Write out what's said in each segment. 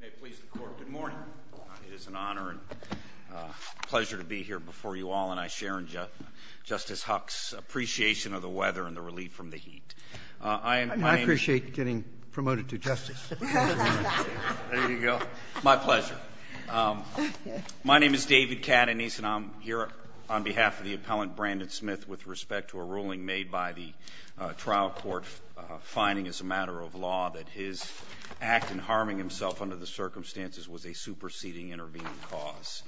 May it please the court, good morning. It is an honor and pleasure to be here before you all, and I share in Justice Huck's appreciation of the weather and the relief from the heat. I appreciate getting promoted to justice. There you go. My pleasure. My name is David Cadanese, and I'm here on behalf of the appellant Brandon Smith with respect to a ruling made by the trial court finding as a matter of law that his act in harming himself under the circumstances was a superseding intervening cause.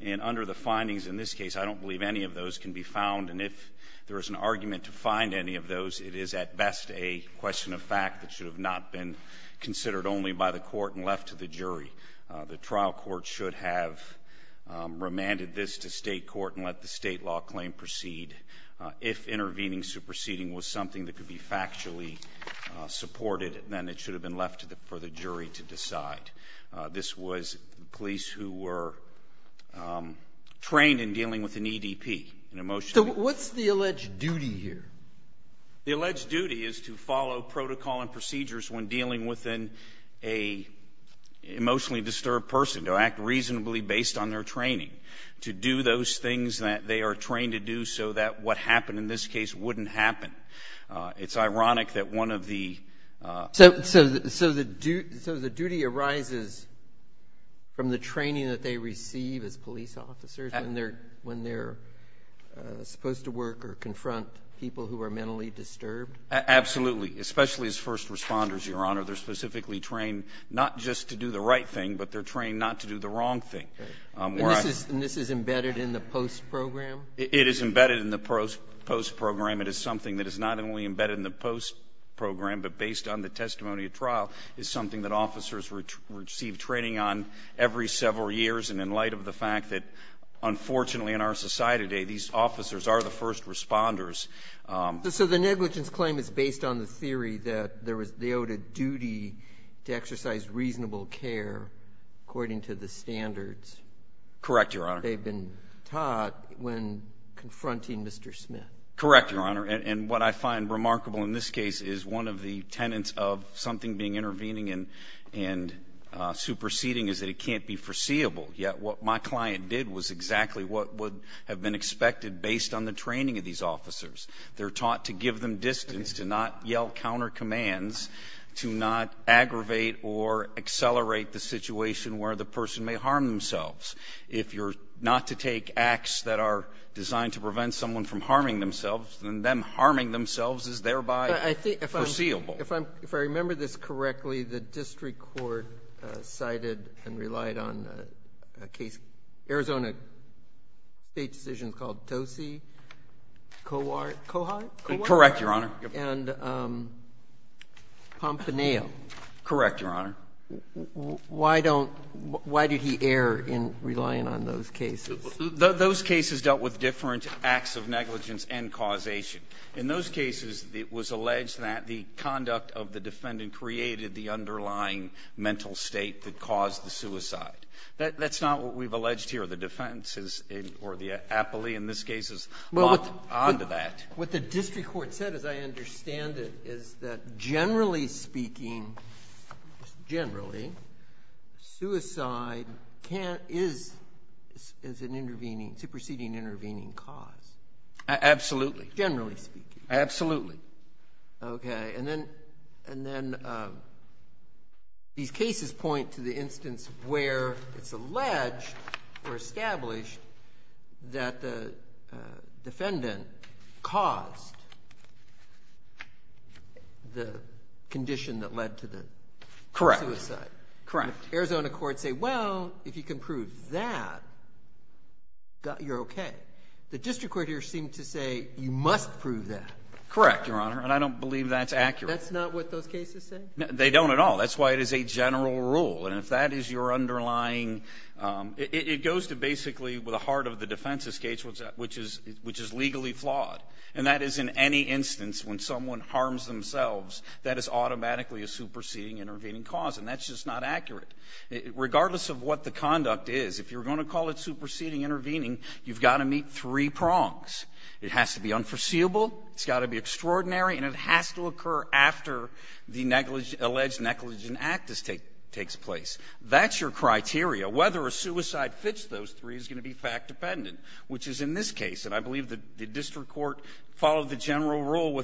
And under the findings in this case, I don't believe any of those can be found, and if there is an argument to find any of those, it is at best a question of fact that should have not been considered only by the court and left to the jury. The trial court should have remanded this to state court and let the state law claim proceed. If intervening superseding was something that could be factually supported, then it should have been left for the jury to decide. This was police who were trained in dealing with an EDP. So what's the alleged duty here? The alleged duty is to follow protocol and procedures when dealing with an emotionally disturbed person, to act reasonably based on their training, to do those things that they are trained to do so that what happened in this case wouldn't happen. It's ironic that one of the... So the duty arises from the training that they receive as police officers when they're supposed to work or confront people who are mentally disturbed? Absolutely, especially as first responders, Your Honor. They're specifically trained not just to do the right thing, but they're trained not to do the wrong thing. And this is embedded in the post program? It is embedded in the post program. It is something that is not only embedded in the post program, but based on the testimony at trial, is something that officers receive training on every several years. And in light of the fact that, unfortunately, in our society today, these officers are the first responders. So the negligence claim is based on the theory that there was the owed a duty to exercise reasonable care according to the standards? Correct, Your Honor. They've been taught when confronting Mr. Smith? Correct, Your Honor. And what I find remarkable in this case is one of the tenets of something being intervening and superseding is that it can't be foreseeable. Yet what my client did was exactly what would have been expected based on the training of these officers. They're taught to give them distance, to not yell countercommands, to not aggravate or accelerate the situation where the person may harm themselves. If you're not to take acts that are designed to prevent someone from harming themselves, then them harming themselves is thereby foreseeable. If I remember this correctly, the district court cited and relied on a case, Arizona State decision called Tose-Cohart? Correct, Your Honor. And Pompaneo? Correct, Your Honor. Why don't – why did he err in relying on those cases? Those cases dealt with different acts of negligence and causation. In those cases, it was alleged that the conduct of the defendant created the underlying mental state that caused the suicide. That's not what we've alleged here. The defense or the appellee in this case is locked onto that. What the district court said, as I understand it, is that generally speaking, generally, suicide is an intervening, superseding intervening cause. Absolutely. Generally speaking. Absolutely. Okay. And then these cases point to the instance where it's alleged or established that the defendant caused the condition that led to the suicide. Correct. Arizona courts say, well, if you can prove that, you're okay. The district court here seemed to say, you must prove that. Correct, Your Honor. And I don't believe that's accurate. That's not what those cases say? They don't at all. That's why it is a general rule. And if that is your underlying – it goes to basically the heart of the defense's case, which is legally flawed. And that is in any instance, when someone harms themselves, that is automatically a superseding intervening cause. And that's just not accurate. Regardless of what the conduct is, if you're going to call it superseding intervening, you've got to meet three prongs. It has to be unforeseeable, it's got to be extraordinary, and it has to occur after the alleged negligent act takes place. That's your criteria. Whether a suicide fits those three is going to be fact-dependent, which is in this case. And I believe the district court followed the general rule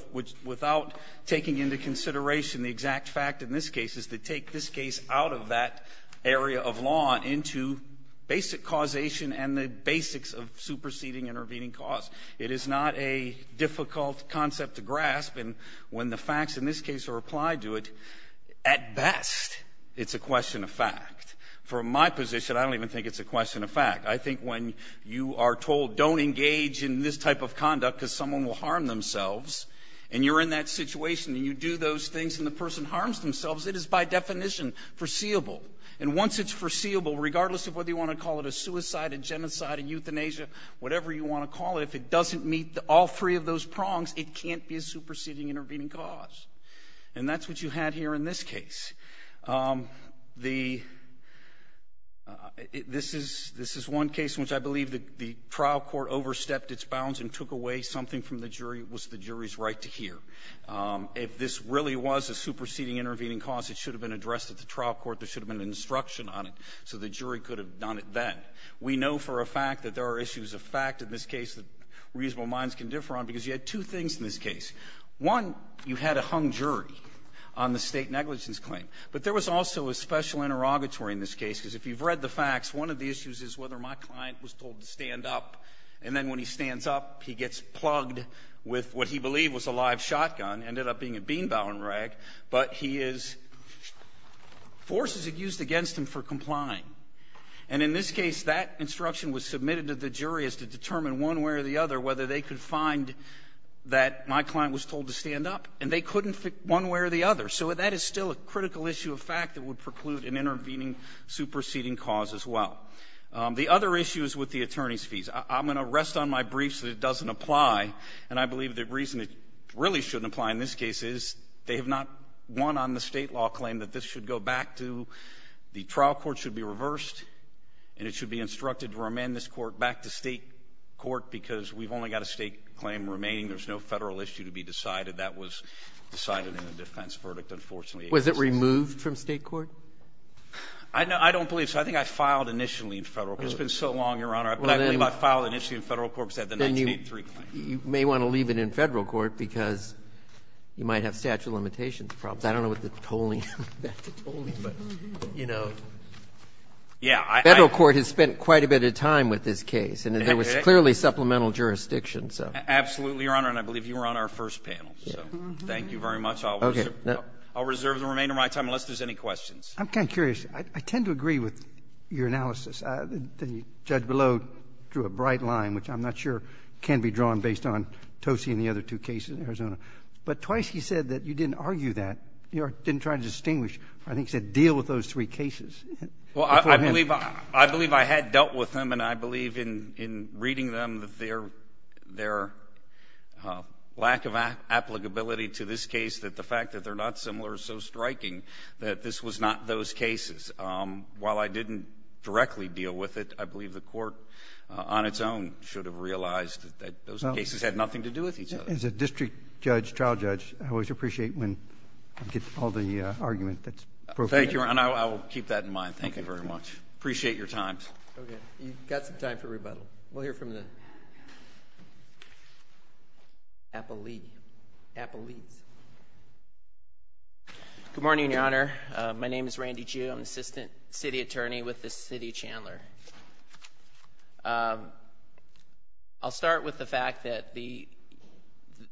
without taking into consideration the exact fact in this case is to take this case out of that area of law into basic causation and the basics of superseding intervening cause. It is not a difficult concept to grasp. And when the facts in this case are applied to it, at best, it's a question of fact. From my position, I don't even think it's a question of fact. I think when you are told, don't engage in this type of conduct because someone will harm themselves, and you're in that situation and you do those things and the person harms themselves, it is by definition foreseeable. And once it's foreseeable, regardless of whether you want to call it a suicide, a genocide, a euthanasia, whatever you want to call it, if it doesn't meet all three of those prongs, it can't be a superseding intervening cause. And that's what you had here in this case. This is one case in which I believe the trial court overstepped its bounds and took away something from the jury. It was the jury's right to hear. If this really was a superseding intervening cause, it should have been addressed at the trial court. There should have been an instruction on it so the jury could have done it then. We know for a fact that there are issues of fact in this case that reasonable minds can differ on because you had two things in this case. One, you had a hung jury on the state negligence claim. But there was also a special interrogatory in this case because if you've read the facts, one of the issues is whether my client was told to stand up. And then when he stands up, he gets plugged with what he believed was a live shotgun. It ended up being a bean-bowling rag. But he is – force is used against him for complying. And in this case, that instruction was submitted to the jury as to determine one way or the other whether they could find that my client was told to stand up. And they couldn't one way or the other. So that is still a critical issue of fact that would preclude an intervening superseding cause as well. The other issue is with the attorney's fees. I'm going to rest on my briefs that it doesn't apply, and I believe the reason it really shouldn't apply in this case is they have not won on the State law claim that this should go back to – the trial court should be reversed. And it should be instructed to remand this court back to State court because we've only got a State claim remaining. There's no Federal issue to be decided. That was decided in the defense verdict, unfortunately. Was it removed from State court? I don't believe so. I think I filed initially in Federal court. It's been so long, Your Honor. I believe I filed initially in Federal court because I had the 1983 claim. You may want to leave it in Federal court because you might have statute of limitations problems. I don't know what the tolling – back to tolling, but, you know, Federal court has spent quite a bit of time with this case, and there was clearly supplemental jurisdiction, so. Absolutely, Your Honor, and I believe you were on our first panel, so thank you very much. I'll reserve the remainder of my time unless there's any questions. I'm kind of curious. I tend to agree with your analysis. The judge below drew a bright line, which I'm not sure can be drawn based on Tosi and the other two cases in Arizona. But twice he said that you didn't argue that. You didn't try to distinguish. I think he said deal with those three cases. Well, I believe I had dealt with them, and I believe in reading them that their lack of applicability to this case, that the fact that they're not similar is so striking that this was not those cases. While I didn't directly deal with it, I believe the Court on its own should have realized that those cases had nothing to do with each other. As a district judge, trial judge, I always appreciate when I get all the argument that's appropriate. Thank you, and I will keep that in mind. Thank you very much. Appreciate your time. Okay. You've got some time for rebuttal. We'll hear from the appellees. Good morning, Your Honor. My name is Randy Jew. I'm Assistant City Attorney with the City of Chandler. I'll start with the fact that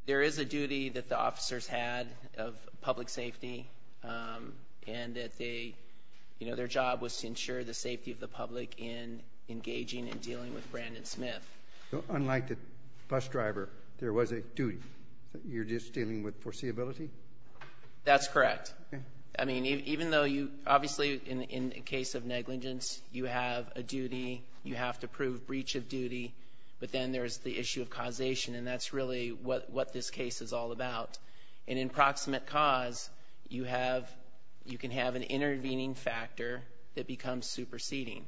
there is a duty that the officers had of public safety, and that their job was to ensure the safety of the public in engaging and dealing with Brandon Smith. Unlike the bus driver, there was a duty. You're just dealing with foreseeability? That's correct. I mean, even though you, obviously, in the case of negligence, you have a duty, you have to prove breach of duty, but then there's the issue of causation, and that's really what this case is all about. And in proximate cause, you can have an intervening factor that becomes superseding,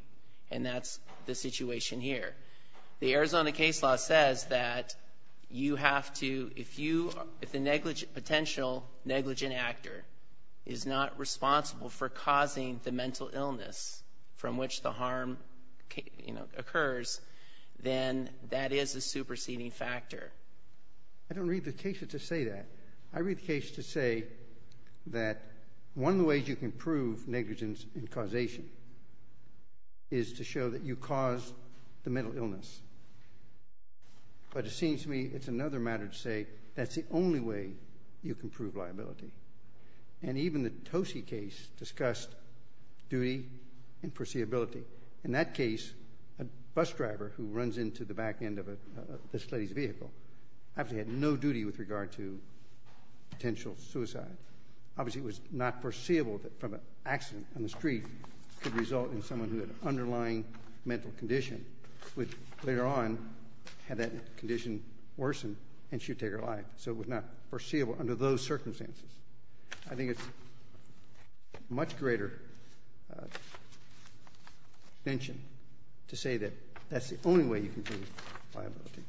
and that's the situation here. The Arizona case law says that you have to, if the potential negligent actor is not responsible for causing the mental illness from which the harm occurs, then that is a superseding factor. I don't read the case to say that. I read the case to say that one of the ways you can prove negligence in But it seems to me it's another matter to say that's the only way you can prove liability. And even the Tosi case discussed duty and foreseeability. In that case, a bus driver who runs into the back end of this lady's vehicle actually had no duty with regard to potential suicide. Obviously, it was not foreseeable that from an accident on the street could result in someone who had an underlying mental condition would later on have that condition worsen and she would take her life. So it was not foreseeable under those circumstances. I think it's a much greater convention to say that that's the only way you can prove liability.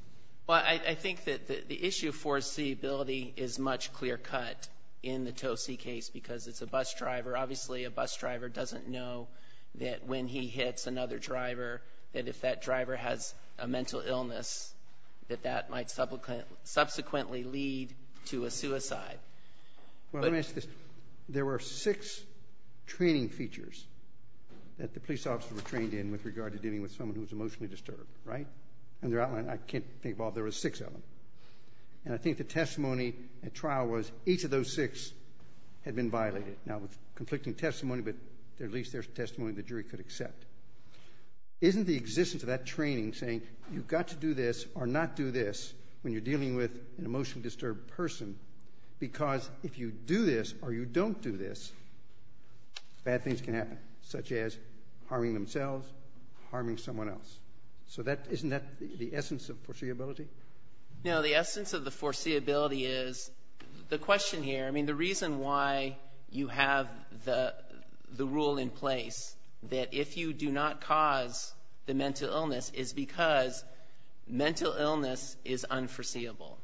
Well, I think that the issue of foreseeability is much clear-cut in the Tosi case because it's a bus driver. Obviously, a bus driver doesn't know that when he hits another driver that if that driver has a mental illness that that might subsequently lead to a suicide. Well, let me ask you this. There were six training features that the police officers were trained in with regard to dealing with someone who was emotionally disturbed, right? And they're outlined. I can't think of all. There were six of them. And I think the testimony at trial was each of those six had been violated. Now, conflicting testimony, but at least there's testimony the jury could accept. Isn't the existence of that training saying you've got to do this or not do this when you're dealing with an emotionally disturbed person because if you do this or you don't do this, bad things can happen, such as harming themselves, harming someone else. So isn't that the essence of foreseeability? No, the essence of the foreseeability is the question here. I mean, the reason why you have the rule in place that if you do not cause the mental illness is because mental illness is unforeseeable.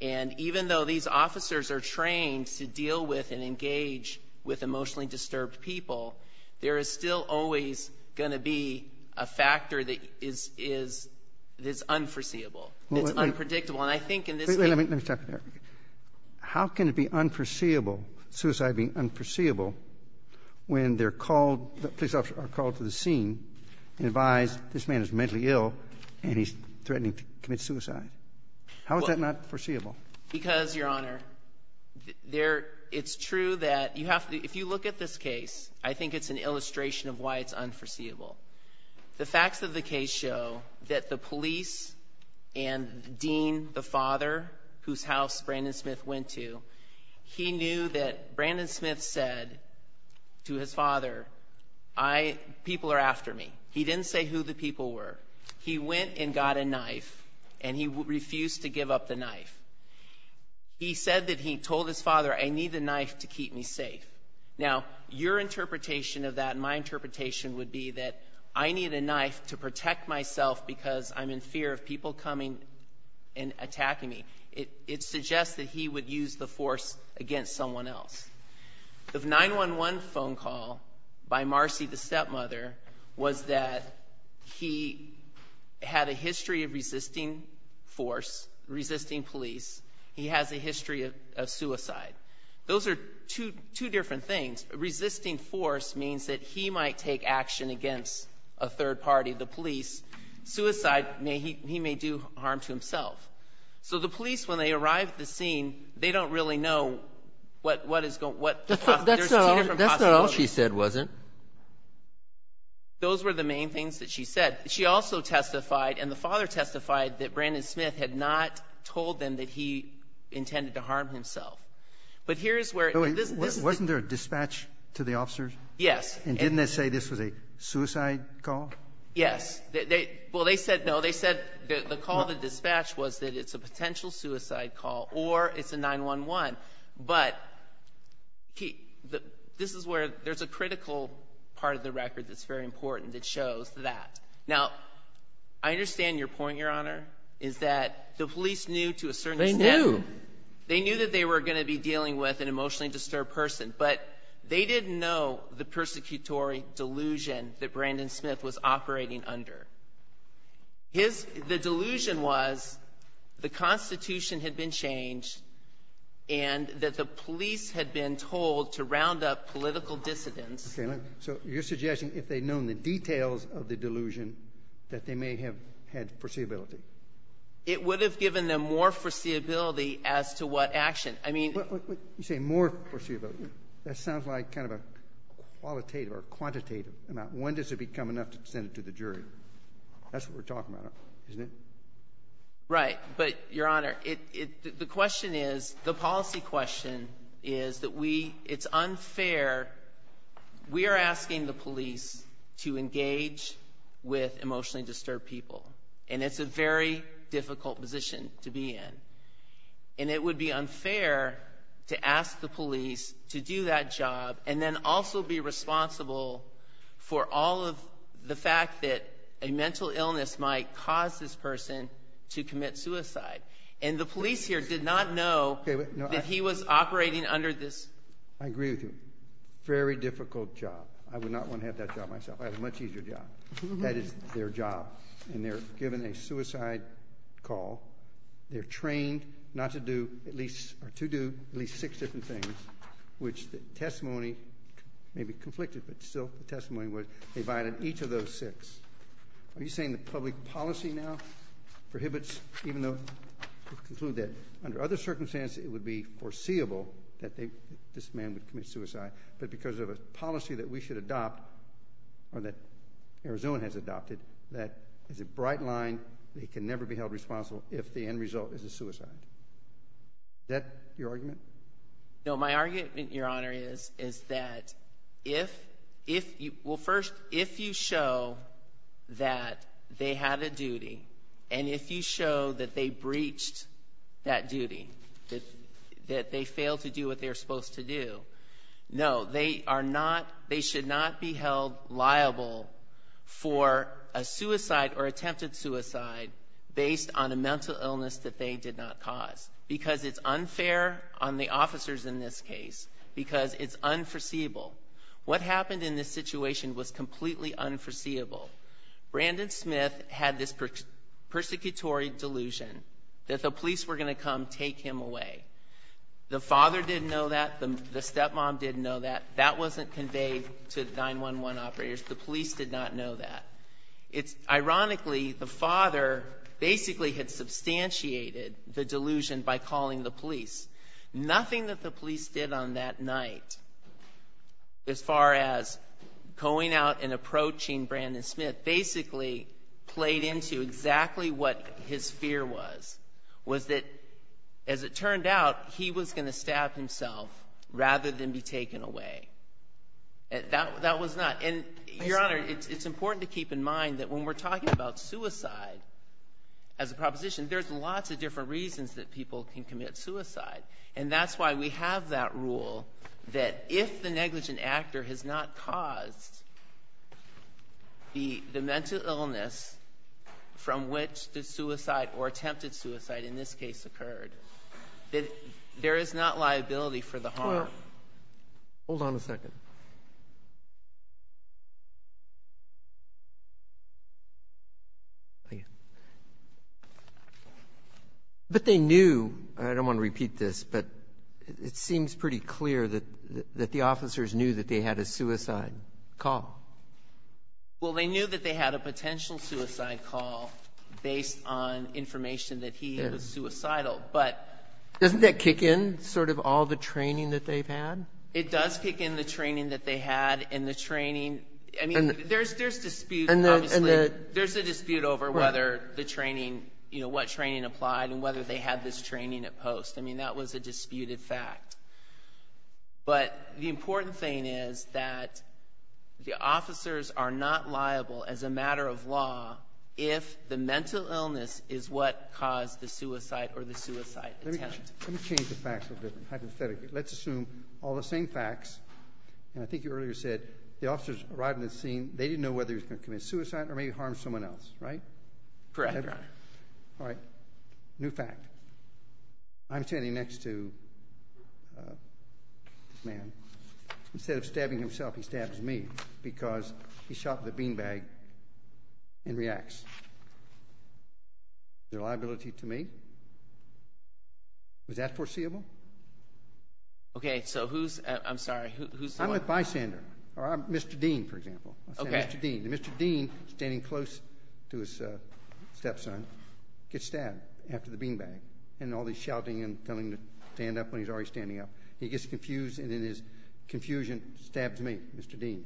And even though these officers are trained to deal with and engage with emotionally disturbed people, there is still always going to be a factor that is unforeseeable, that's unpredictable. And I think in this case Let me stop you there. How can it be unforeseeable, suicide being unforeseeable, when police officers are called to the scene and advised this man is mentally ill and he's threatening to commit suicide? How is that not foreseeable? Because, Your Honor, it's true that if you look at this case, I think it's an illustration of why it's unforeseeable. The facts of the case show that the police and the dean, the father, whose house Brandon Smith went to, he knew that Brandon Smith said to his father, people are after me. He didn't say who the people were. He went and got a knife, and he refused to give up the knife. He said that he told his father, I need the knife to keep me safe. Now, your interpretation of that and my interpretation would be that I need a knife to protect myself because I'm in fear of people coming and attacking me. It suggests that he would use the force against someone else. The 911 phone call by Marcy, the stepmother, was that he had a history of resisting force, resisting police. He has a history of suicide. Those are two different things. Resisting force means that he might take action against a third party, the police. Suicide, he may do harm to himself. So the police, when they arrive at the scene, they don't really know what is going to happen. That's not all she said, was it? Those were the main things that she said. She also testified, and the father testified, that Brandon Smith had not told them that he intended to harm himself. But here's where this is. Wasn't there a dispatch to the officers? Yes. And didn't they say this was a suicide call? Yes. Well, they said no. They said the call to dispatch was that it's a potential suicide call or it's a 911. But this is where there's a critical part of the record that's very important that shows that. Now, I understand your point, Your Honor, is that the police knew to a certain extent. They knew. They knew that they were going to be dealing with an emotionally disturbed person. But they didn't know the persecutory delusion that Brandon Smith was operating under. The delusion was the Constitution had been changed and that the police had been told to round up political dissidents. So you're suggesting if they'd known the details of the delusion that they may have had foreseeability. It would have given them more foreseeability as to what action. You say more foreseeability. That sounds like kind of a qualitative or quantitative amount. When does it become enough to send it to the jury? That's what we're talking about, isn't it? Right. But, Your Honor, the question is, the policy question is that it's unfair. We are asking the police to engage with emotionally disturbed people. And it's a very difficult position to be in. And it would be unfair to ask the police to do that job and then also be responsible for all of the fact that a mental illness might cause this person to commit suicide. And the police here did not know that he was operating under this. I agree with you. Very difficult job. I would not want to have that job myself. I have a much easier job. That is their job. And they're given a suicide call. They're trained not to do at least or to do at least six different things, which the testimony may be conflicted, but still the testimony was they violated each of those six. Are you saying the public policy now prohibits, even though you conclude that under other circumstances, it would be foreseeable that this man would commit suicide, but because of a policy that we should adopt or that Arizona has adopted, that is a bright line that he can never be held responsible if the end result is a suicide? Is that your argument? No, my argument, Your Honor, is that if you show that they had a duty and if you show that they breached that duty, that they failed to do what they were supposed to do, no, they are not, they should not be held liable for a suicide or attempted suicide based on a mental illness that they did not cause because it's unfair on the officers in this case because it's unforeseeable. What happened in this situation was completely unforeseeable. Brandon Smith had this persecutory delusion that the police were going to come take him away. The father didn't know that. The stepmom didn't know that. That wasn't conveyed to the 911 operators. The police did not know that. Ironically, the father basically had substantiated the delusion by calling the police. Nothing that the police did on that night, as far as going out and approaching Brandon Smith, basically played into exactly what his fear was, was that, as it turned out, he was going to stab himself rather than be taken away. That was not. Your Honor, it's important to keep in mind that when we're talking about suicide, as a proposition, there's lots of different reasons that people can commit suicide, and that's why we have that rule that if the negligent actor has not caused the mental illness from which the suicide or attempted suicide in this case occurred, that there is not liability for the harm. Well, hold on a second. But they knew, and I don't want to repeat this, but it seems pretty clear that the officers knew that they had a suicide call. Well, they knew that they had a potential suicide call based on information that he was suicidal. Doesn't that kick in sort of all the training that they've had? It does kick in the training that they had and the training. I mean, there's dispute, obviously. There's a dispute over whether the training, you know, what training applied and whether they had this training at post. I mean, that was a disputed fact. But the important thing is that the officers are not liable as a matter of law if the mental illness is what caused the suicide or the suicide attempt. Let me change the facts a little bit, hypothetically. Let's assume all the same facts, and I think you earlier said the officers arrived at the scene, they didn't know whether he was going to commit suicide or maybe harm someone else, right? Correct, Your Honor. All right. New fact. I'm standing next to this man. Instead of stabbing himself, he stabs me because he shot the beanbag and reacts. Is there a liability to me? Was that foreseeable? Okay, so who's, I'm sorry, who's the one? I'm with Bysander or Mr. Dean, for example. Okay. Mr. Dean. Mr. Dean, standing close to his stepson, gets stabbed after the beanbag and all the shouting and telling him to stand up when he's already standing up. He gets confused, and in his confusion, stabs me, Mr. Dean.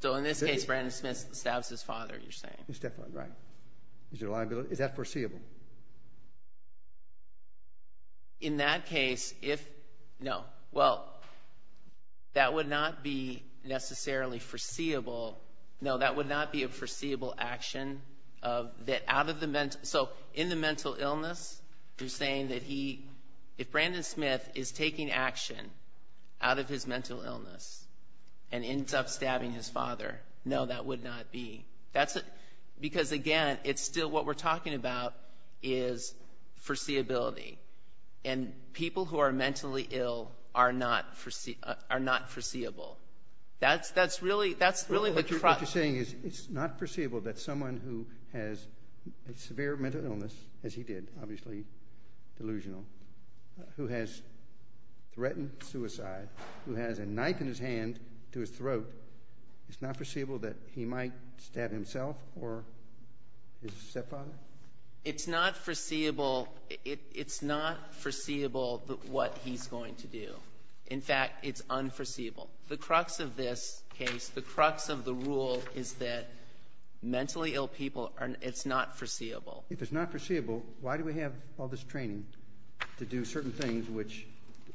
So in this case, Brandon Smith stabs his father, you're saying. His stepfather, right. Is there a liability? Is that foreseeable? In that case, if no. Well, that would not be necessarily foreseeable. No, that would not be a foreseeable action. So in the mental illness, you're saying that he, if Brandon Smith is taking action out of his mental illness and ends up stabbing his father, no, that would not be. Because, again, it's still what we're talking about is foreseeability. And people who are mentally ill are not foreseeable. That's really the problem. What you're saying is it's not foreseeable that someone who has a severe mental illness, as he did, obviously delusional, who has threatened suicide, who has a knife in his hand to his throat, it's not foreseeable that he might stab himself or his stepfather? It's not foreseeable. It's not foreseeable what he's going to do. In fact, it's unforeseeable. The crux of this case, the crux of the rule, is that mentally ill people, it's not foreseeable. If it's not foreseeable, why do we have all this training to do certain things, which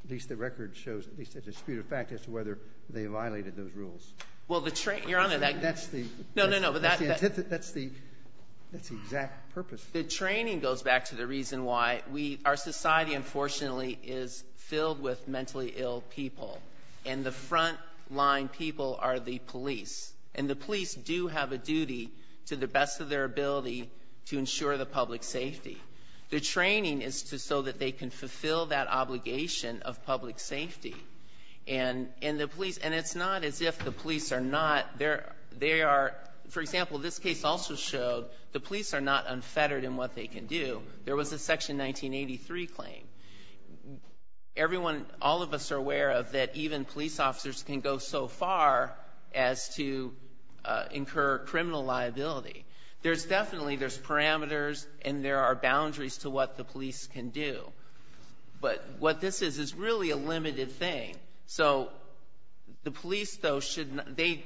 at least the record shows, at least it's a disputed fact, as to whether they violated those rules? Well, the training. Your Honor, that's the. No, no, no. That's the exact purpose. The training goes back to the reason why. Our society, unfortunately, is filled with mentally ill people, and the front-line people are the police. And the police do have a duty to the best of their ability to ensure the public safety. The training is so that they can fulfill that obligation of public safety. And it's not as if the police are not. For example, this case also showed the police are not unfettered in what they can do. There was a Section 1983 claim. Everyone, all of us are aware of that even police officers can go so far as to incur criminal liability. There's definitely, there's parameters, and there are boundaries to what the police can do. But what this is is really a limited thing. So the police, though, should not, they,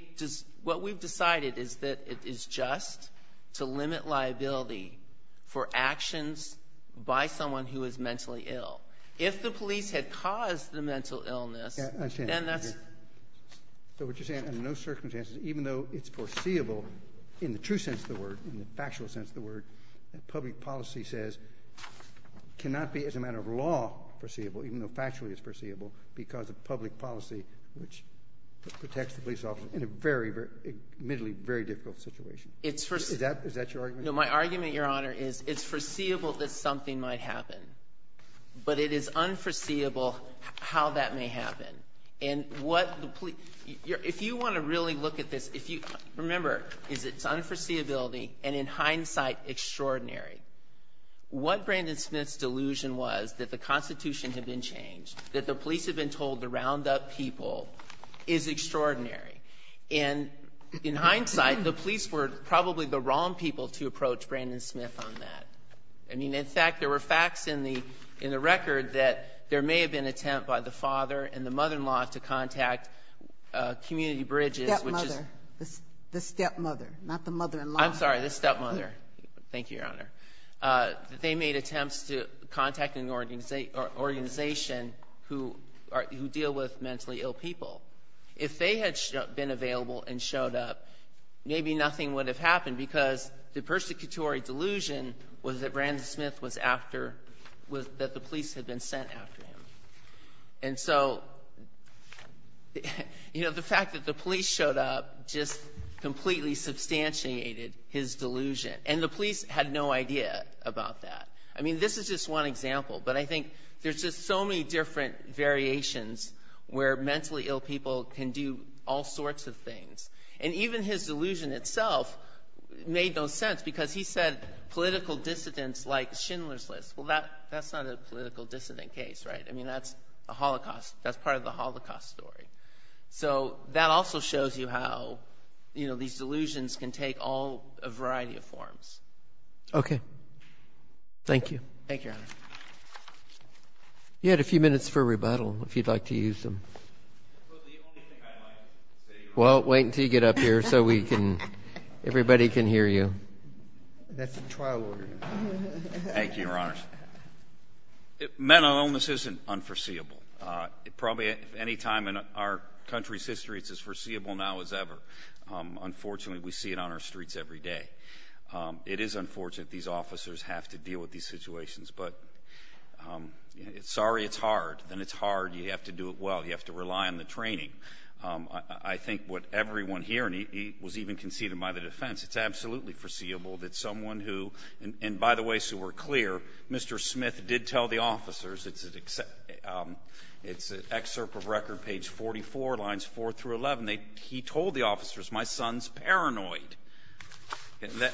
what we've decided is that it is just to limit liability for actions by someone who is mentally ill. If the police had caused the mental illness, then that's. So what you're saying, under no circumstances, even though it's foreseeable, in the true sense of the word, in the factual sense of the word, that public policy says cannot be, as a matter of law, foreseeable, even though factually it's foreseeable because of public policy, which protects the police officer in a very, very, admittedly very difficult situation. Is that your argument? No, my argument, Your Honor, is it's foreseeable that something might happen. But it is unforeseeable how that may happen. And what the police, if you want to really look at this, if you, remember, is it's unforeseeability and in hindsight extraordinary. What Brandon Smith's delusion was that the Constitution had been changed, that the police had been told to round up people is extraordinary. And in hindsight, the police were probably the wrong people to approach Brandon Smith on that. I mean, in fact, there were facts in the record that there may have been an attempt by the father and the mother-in-law to contact community bridges, which is. The stepmother, not the mother-in-law. I'm sorry, the stepmother. Thank you, Your Honor. They made attempts to contact an organization who deal with mentally ill people. If they had been available and showed up, maybe nothing would have happened because the persecutory delusion was that Brandon Smith was after, that the police had been sent after him. And so, you know, the fact that the police showed up just completely substantiated his delusion. And the police had no idea about that. I mean, this is just one example, but I think there's just so many different variations where mentally ill people can do all sorts of things. And even his delusion itself made no sense because he said political dissidents like Schindler's List. Well, that's not a political dissident case, right? I mean, that's a Holocaust. That's part of the Holocaust story. So that also shows you how, you know, these delusions can take all a variety of forms. Okay. Thank you. Thank you, Your Honor. You had a few minutes for rebuttal, if you'd like to use them. The only thing I'd like to say, Your Honor. Well, wait until you get up here so everybody can hear you. That's a trial order. Thank you, Your Honors. Mental illness isn't unforeseeable. Probably at any time in our country's history, it's as foreseeable now as ever. Unfortunately, we see it on our streets every day. It is unfortunate these officers have to deal with these situations. But sorry it's hard. When it's hard, you have to do it well. You have to rely on the training. I think what everyone here, and he was even conceded by the defense, it's absolutely foreseeable that someone who, and by the way, so we're clear, Mr. Smith did tell the officers, it's an excerpt of record, page 44, lines 4 through 11, he told the officers, my son's paranoid.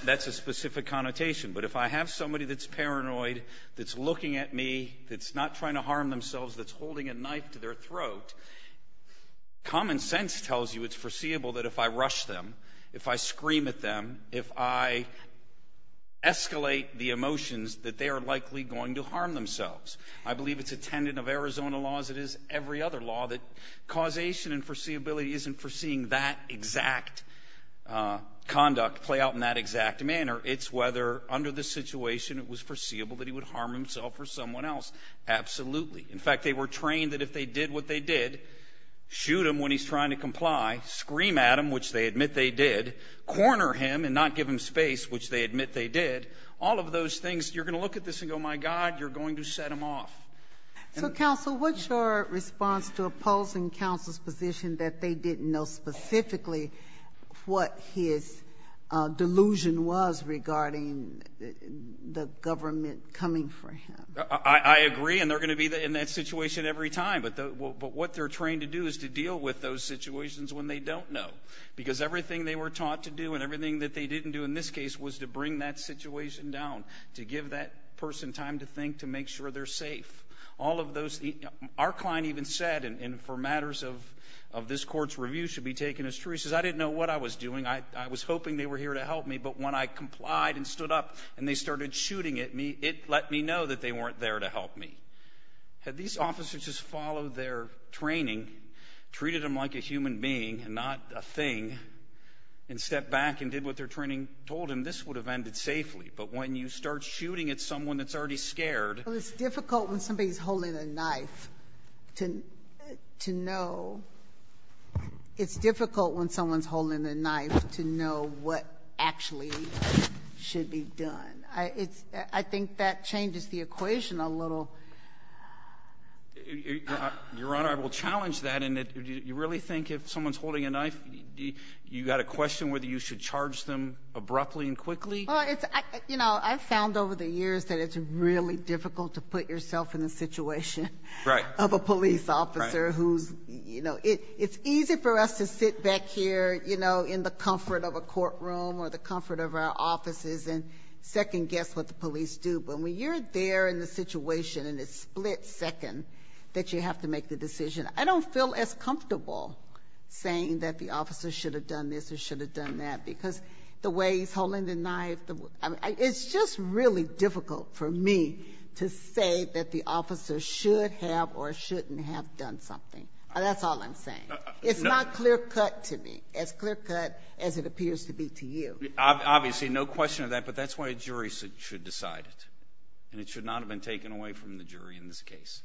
That's a specific connotation. But if I have somebody that's paranoid, that's looking at me, that's not trying to harm themselves, that's holding a knife to their throat, common sense tells you it's foreseeable that if I rush them, if I scream at them, if I escalate the emotions, that they are likely going to harm themselves. I believe it's a tenant of Arizona law as it is every other law that causation and foreseeability isn't foreseeing that exact conduct play out in that exact manner. It's whether under the situation it was foreseeable that he would harm himself or someone else. Absolutely. In fact, they were trained that if they did what they did, shoot him when he's trying to comply, scream at him, which they admit they did, corner him and not give him space, which they admit they did, all of those things, you're going to look at this and go, my God, you're going to set him off. So, counsel, what's your response to opposing counsel's position that they didn't know specifically what his delusion was regarding the government coming for him? I agree, and they're going to be in that situation every time. But what they're trained to do is to deal with those situations when they don't know because everything they were taught to do and everything that they didn't do in this case was to bring that situation down, to give that person time to think, to make sure they're safe. All of those things. Our client even said, and for matters of this court's review should be taken as true, he says, I didn't know what I was doing. I was hoping they were here to help me, but when I complied and stood up and they started shooting at me, it let me know that they weren't there to help me. Had these officers just followed their training, treated him like a human being and not a thing, and stepped back and did what their training told them, this would have ended safely. But when you start shooting at someone that's already scared. It's difficult when somebody's holding a knife to know. It's difficult when someone's holding a knife to know what actually should be done. I think that changes the equation a little. Your Honor, I will challenge that in that you really think if someone's holding a knife, you got a question whether you should charge them abruptly and quickly? I've found over the years that it's really difficult to put yourself in the situation of a police officer. It's easy for us to sit back here in the comfort of a courtroom or the comfort of our offices and second-guess what the police do. But when you're there in the situation and it's split second that you have to make the decision, I don't feel as comfortable saying that the officer should have done this or should have done that because the way he's holding the knife, it's just really difficult for me to say that the officer should have or shouldn't have done something. That's all I'm saying. It's not clear-cut to me, as clear-cut as it appears to be to you. Obviously, no question of that, but that's why a jury should decide it, and it should not have been taken away from the jury in this case.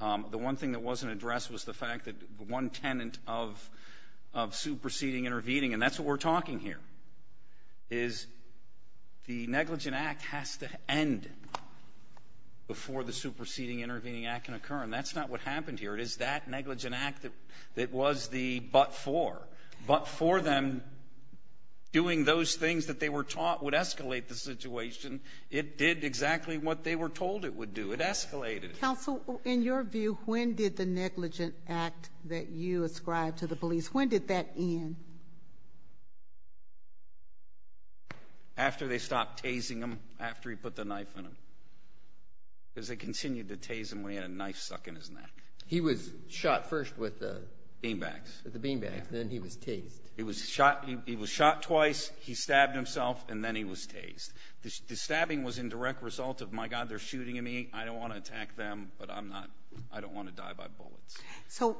The one thing that wasn't addressed was the fact that one tenant of superseding, intervening, and that's what we're talking here, is the negligent act has to end before the superseding, intervening act can occur, and that's not what happened here. It is that negligent act that was the but for. But for them, doing those things that they were taught would escalate the situation. It did exactly what they were told it would do. It escalated. Counsel, in your view, when did the negligent act that you ascribed to the police, when did that end? After they stopped tasing him, after he put the knife in him. Because they continued to tase him when he had a knife stuck in his neck. He was shot first with the beanbags, then he was tased. He was shot twice, he stabbed himself, and then he was tased. The stabbing was in direct result of, my God, they're shooting at me, I don't want to attack them, but I don't want to die by bullets. So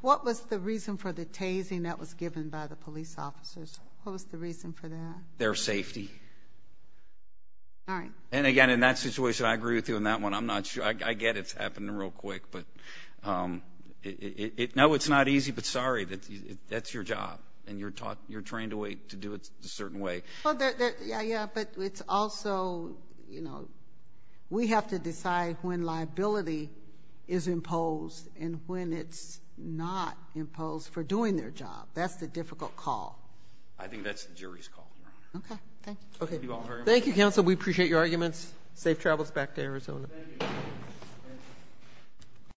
what was the reason for the tasing that was given by the police officers? What was the reason for that? Their safety. All right. And, again, in that situation, I agree with you on that one. I'm not sure. I get it's happening real quick, but no, it's not easy, but sorry, that's your job, and you're trained to do it a certain way. Yeah, yeah, but it's also, you know, we have to decide when liability is imposed and when it's not imposed for doing their job. That's the difficult call. I think that's the jury's call, Your Honor. Okay, thank you. Thank you, counsel. We appreciate your arguments. Safe travels back to Arizona. Thank you.